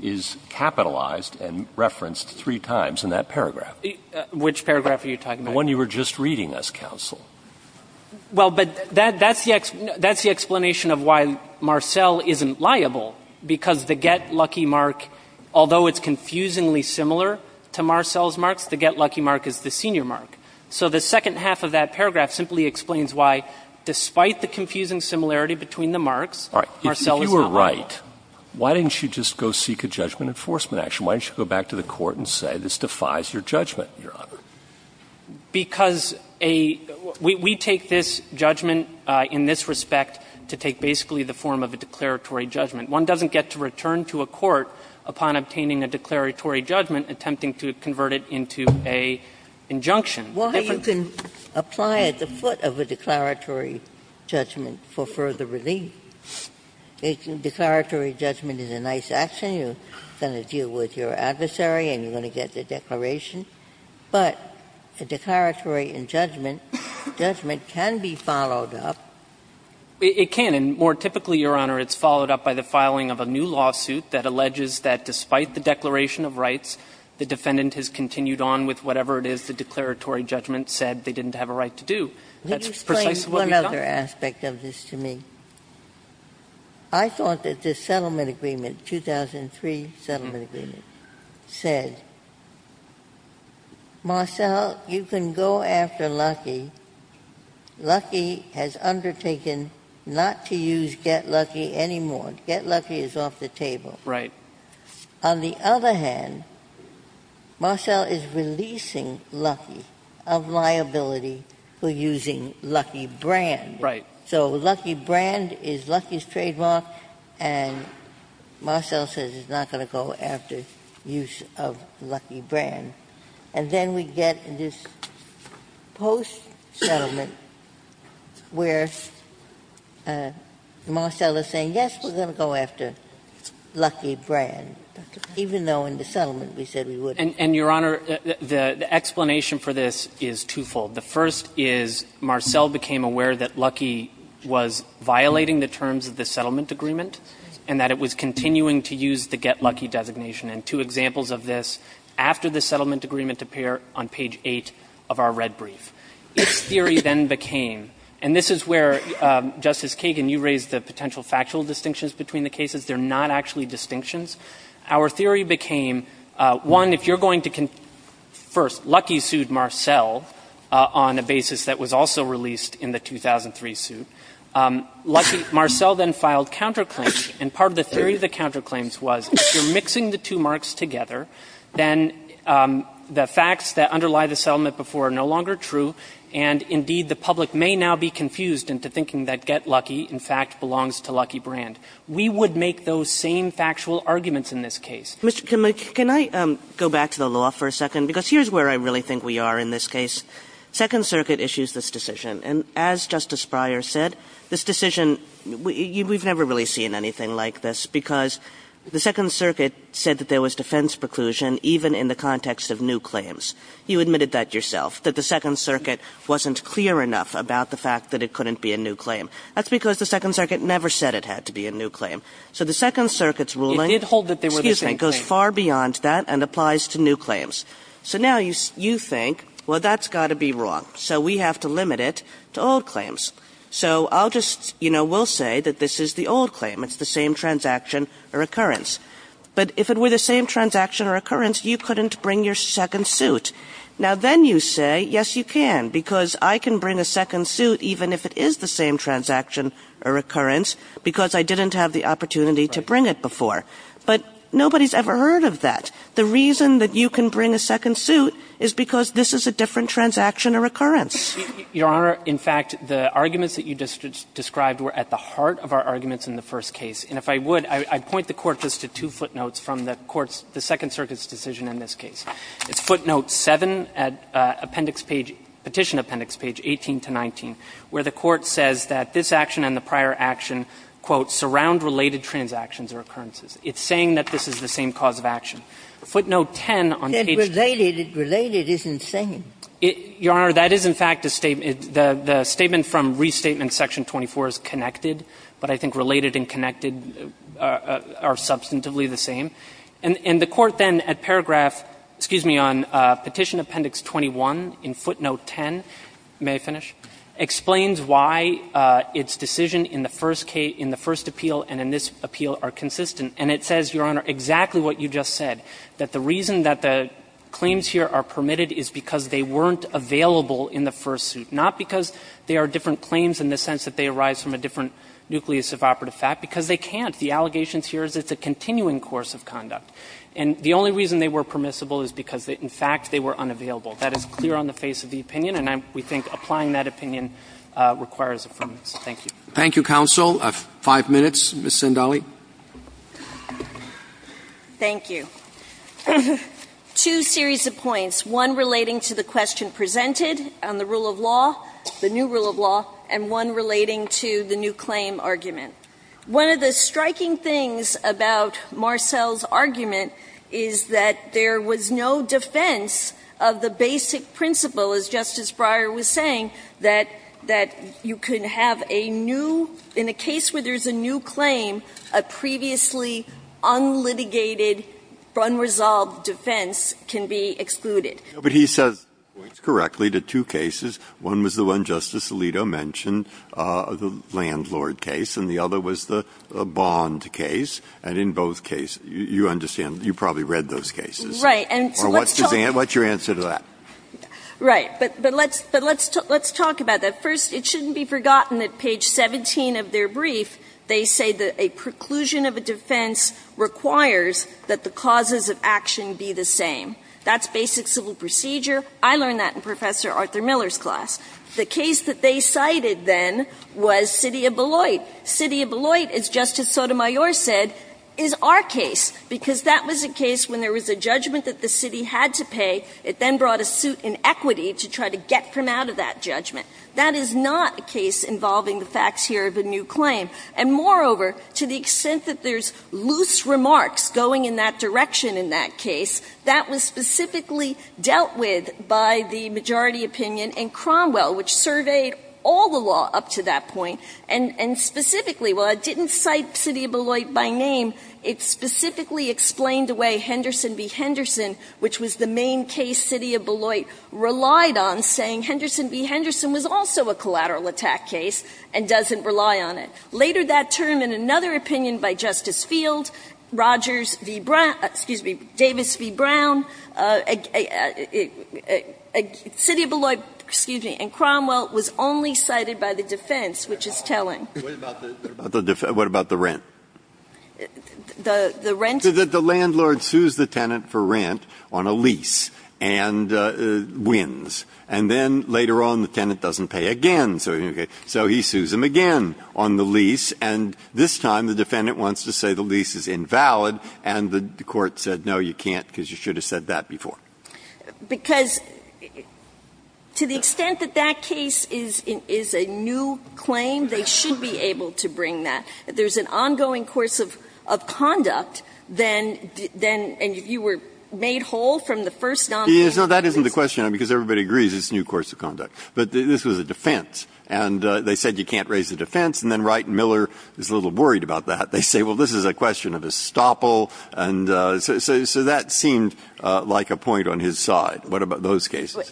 is capitalized and referenced three times in that paragraph. Jaffer Which paragraph are you talking about? The one you were just reading us, counsel. Jaffer Well, but that's the explanation of why Marcell isn't liable, because the Get Lucky mark, although it's confusingly similar to Marcell's marks, the Get Lucky mark is the senior mark. So the second half of that paragraph simply explains why, despite the confusing similarity between the marks, Marcell is not liable. Breyer If you were right, why didn't you just go seek a judgment enforcement action? Why didn't you go back to the Court and say this defies your judgment, Your Honor? Jaffer Because a – we take this judgment in this respect to take basically the form of a declaratory judgment. One doesn't get to return to a court upon obtaining a declaratory judgment attempting to convert it into an injunction. Ginsburg Well, you can apply at the foot of a declaratory judgment for further relief. A declaratory judgment is a nice action. You're going to deal with your adversary and you're going to get the declaration. But a declaratory judgment can be followed up. Jaffer It can. And more typically, Your Honor, it's followed up by the filing of a new lawsuit that alleges that despite the declaration of rights, the defendant has continued on with whatever it is the declaratory judgment said they didn't have a right to do. That's precisely what we found. Ginsburg Can you explain one other aspect of this to me? I thought that this settlement agreement, 2003 settlement agreement, said, Marcell, you can go after Lucky. Lucky has undertaken not to use Get Lucky anymore. Get Lucky is off the table. On the other hand, Marcell is releasing Lucky of liability for using Lucky Brand. So Lucky Brand is Lucky's trademark and Marcell says it's not going to go after use of Lucky Brand. And then we get this post-settlement where Marcell is saying, yes, we're going to go after Lucky Brand, even though in the settlement we said we wouldn't. Jaffer And, Your Honor, the explanation for this is twofold. The first is Marcell became aware that Lucky was violating the terms of the settlement agreement and that it was continuing to use the Get Lucky designation. And two examples of this after the settlement agreement appear on page 8 of our red brief. Its theory then became, and this is where, Justice Kagan, you raised the potential factual distinctions between the cases. They're not actually distinctions. Our theory became, one, if you're going to confirm Lucky sued Marcell on a basis that was also released in the 2003 suit, Lucky Marcell then filed counterclaims. And part of the theory of the counterclaims was if you're mixing the two marks together, then the facts that underlie the settlement before are no longer true and, indeed, the public may now be confused into thinking that Get Lucky, in fact, belongs to Lucky Brand. We would make those same factual arguments in this case. Kagan Can I go back to the law for a second? Because here's where I really think we are in this case. Second Circuit issues this decision. And as Justice Breyer said, this decision, we've never really seen anything like this because the Second Circuit said that there was defense preclusion even in the context of new claims. You admitted that yourself, that the Second Circuit wasn't clear enough about the fact that it couldn't be a new claim. That's because the Second Circuit never said it had to be a new claim. So the Second Circuit's ruling goes far beyond that and applies to new claims. So now you think, well, that's got to be wrong. So we have to limit it to old claims. So I'll just, you know, we'll say that this is the old claim. It's the same transaction or occurrence. But if it were the same transaction or occurrence, you couldn't bring your second suit. Now then you say, yes, you can because I can bring a second suit even if it is the same transaction or occurrence because I didn't have the opportunity to bring it before. But nobody's ever heard of that. The reason that you can bring a second suit is because this is a different transaction or occurrence. Shaheener, Your Honor, in fact, the arguments that you just described were at the heart of our arguments in the first case. And if I would, I'd point the Court just to two footnotes from the Court's, the Second Circuit's decision in this case. It's footnote 7 at appendix page, Petition Appendix page 18 to 19, where the Court says that this action and the prior action, quote, surround related transactions or occurrences. It's saying that this is the same cause of action. Footnote 10 on page 10. Ginsburg. Related is insane. Shaheener, Your Honor, that is, in fact, a statement. The statement from Restatement Section 24 is connected, but I think related and connected are substantively the same. And the Court then, at paragraph, excuse me, on Petition Appendix 21 in footnote 10, may I finish, explains why its decision in the first case, in the first appeal and in this appeal are consistent. And it says, Your Honor, exactly what you just said, that the reason that the claims here are permitted is because they weren't available in the first suit, not because there are different claims in the sense that they arise from a different nucleus of operative fact, because they can't. The allegations here is it's a continuing course of conduct. And the only reason they were permissible is because, in fact, they were unavailable. That is clear on the face of the opinion, and I'm we think applying that opinion requires affirmation. Thank you. Roberts. Thank you, counsel. Five minutes. Ms. Sindali. Thank you. Two series of points, one relating to the question presented on the rule of law, the new rule of law, and one relating to the new claim argument. One of the striking things about Marcell's argument is that there was no defense of the basic principle, as Justice Breyer was saying, that you can have a new claim in a case where there is a new claim, a previously unlitigated, unresolved defense can be excluded. But he says, correctly, the two cases, one was the one Justice Alito mentioned, the landlord case, and the other was the bond case. And in both cases, you understand, you probably read those cases. Right. And so let's talk. What's your answer to that? Right. But let's talk about that. First, it shouldn't be forgotten that page 17 of their brief, they say that a preclusion of a defense requires that the causes of action be the same. That's basic civil procedure. I learned that in Professor Arthur Miller's class. The case that they cited then was City of Beloit. City of Beloit, as Justice Sotomayor said, is our case, because that was a case when there was a judgment that the city had to pay. It then brought a suit in equity to try to get from out of that judgment. That is not a case involving the facts here of a new claim. And moreover, to the extent that there's loose remarks going in that direction in that case, that was specifically dealt with by the majority opinion in Cromwell, which surveyed all the law up to that point. And specifically, while it didn't cite City of Beloit by name, it specifically explained the way Henderson v. Henderson, which was the main case City of Beloit relied on, saying Henderson v. Henderson was also a collateral attack case and doesn't rely on it. Later that term, in another opinion by Justice Field, Rogers v. Brown – excuse me, Davis v. Brown, City of Beloit, excuse me, and Cromwell was only cited by the defense, which is telling. Breyer. What about the rent? The rent? The landlord sues the tenant for rent on a lease and wins. And then later on, the tenant doesn't pay again, so he sues him again on the lease. And this time, the defendant wants to say the lease is invalid, and the court said, no, you can't, because you should have said that before. Because to the extent that that case is a new claim, they should be able to bring that. If there's an ongoing course of conduct, then – and if you were made whole from the first nonviolent case. No, that isn't the question, because everybody agrees it's a new course of conduct. But this was a defense, and they said you can't raise the defense, and then Wright and Miller is a little worried about that. They say, well, this is a question of estoppel, and so that seemed like a point on his side. What about those cases?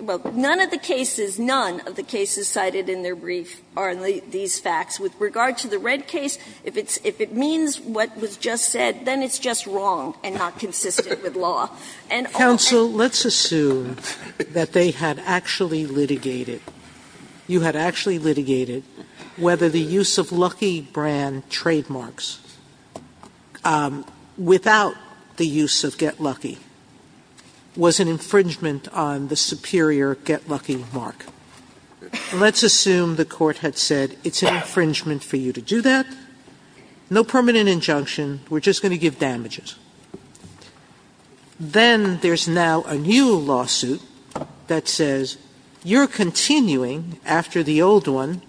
Well, none of the cases, none of the cases cited in their brief are these facts. With regard to the Red case, if it's – if it means what was just said, then it's just wrong and not consistent with law. And all – Sotomayor, let's assume that they had actually litigated, you had actually litigated whether the use of Lucky brand trademarks without the use of Get Lucky was an infringement on the superior Get Lucky mark. Let's assume the court had said it's an infringement for you to do that. No permanent injunction. We're just going to give damages. Then there's now a new lawsuit that says you're continuing, after the old one,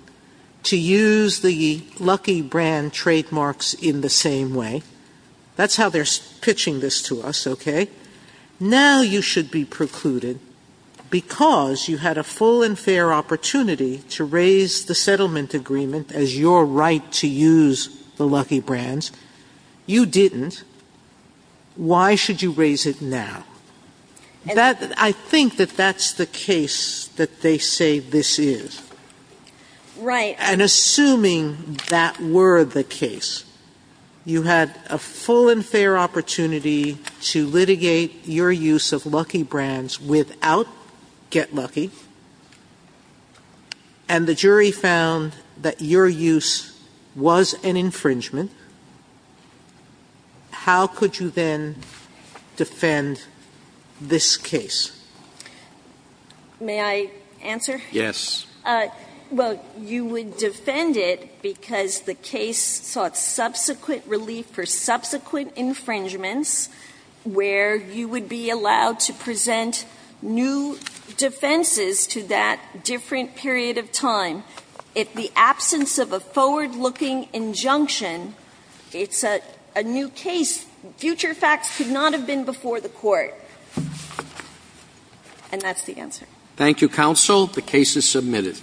to use the Lucky brand trademarks in the same way. That's how they're pitching this to us, okay? Now you should be precluded because you had a full and fair opportunity to raise the settlement agreement as your right to use the Lucky brands. You didn't. Why should you raise it now? I think that that's the case that they say this is. Right. And assuming that were the case, you had a full and fair opportunity to litigate your use of Lucky brands without Get Lucky, and the jury found that your use was an infringement, how could you then defend this case? May I answer? Yes. Well, you would defend it because the case sought subsequent relief for subsequent infringements where you would be allowed to present new defenses to that different period of time. If the absence of a forward-looking injunction, it's a new case. Future facts could not have been before the court. And that's the answer. Thank you, counsel. The case is submitted.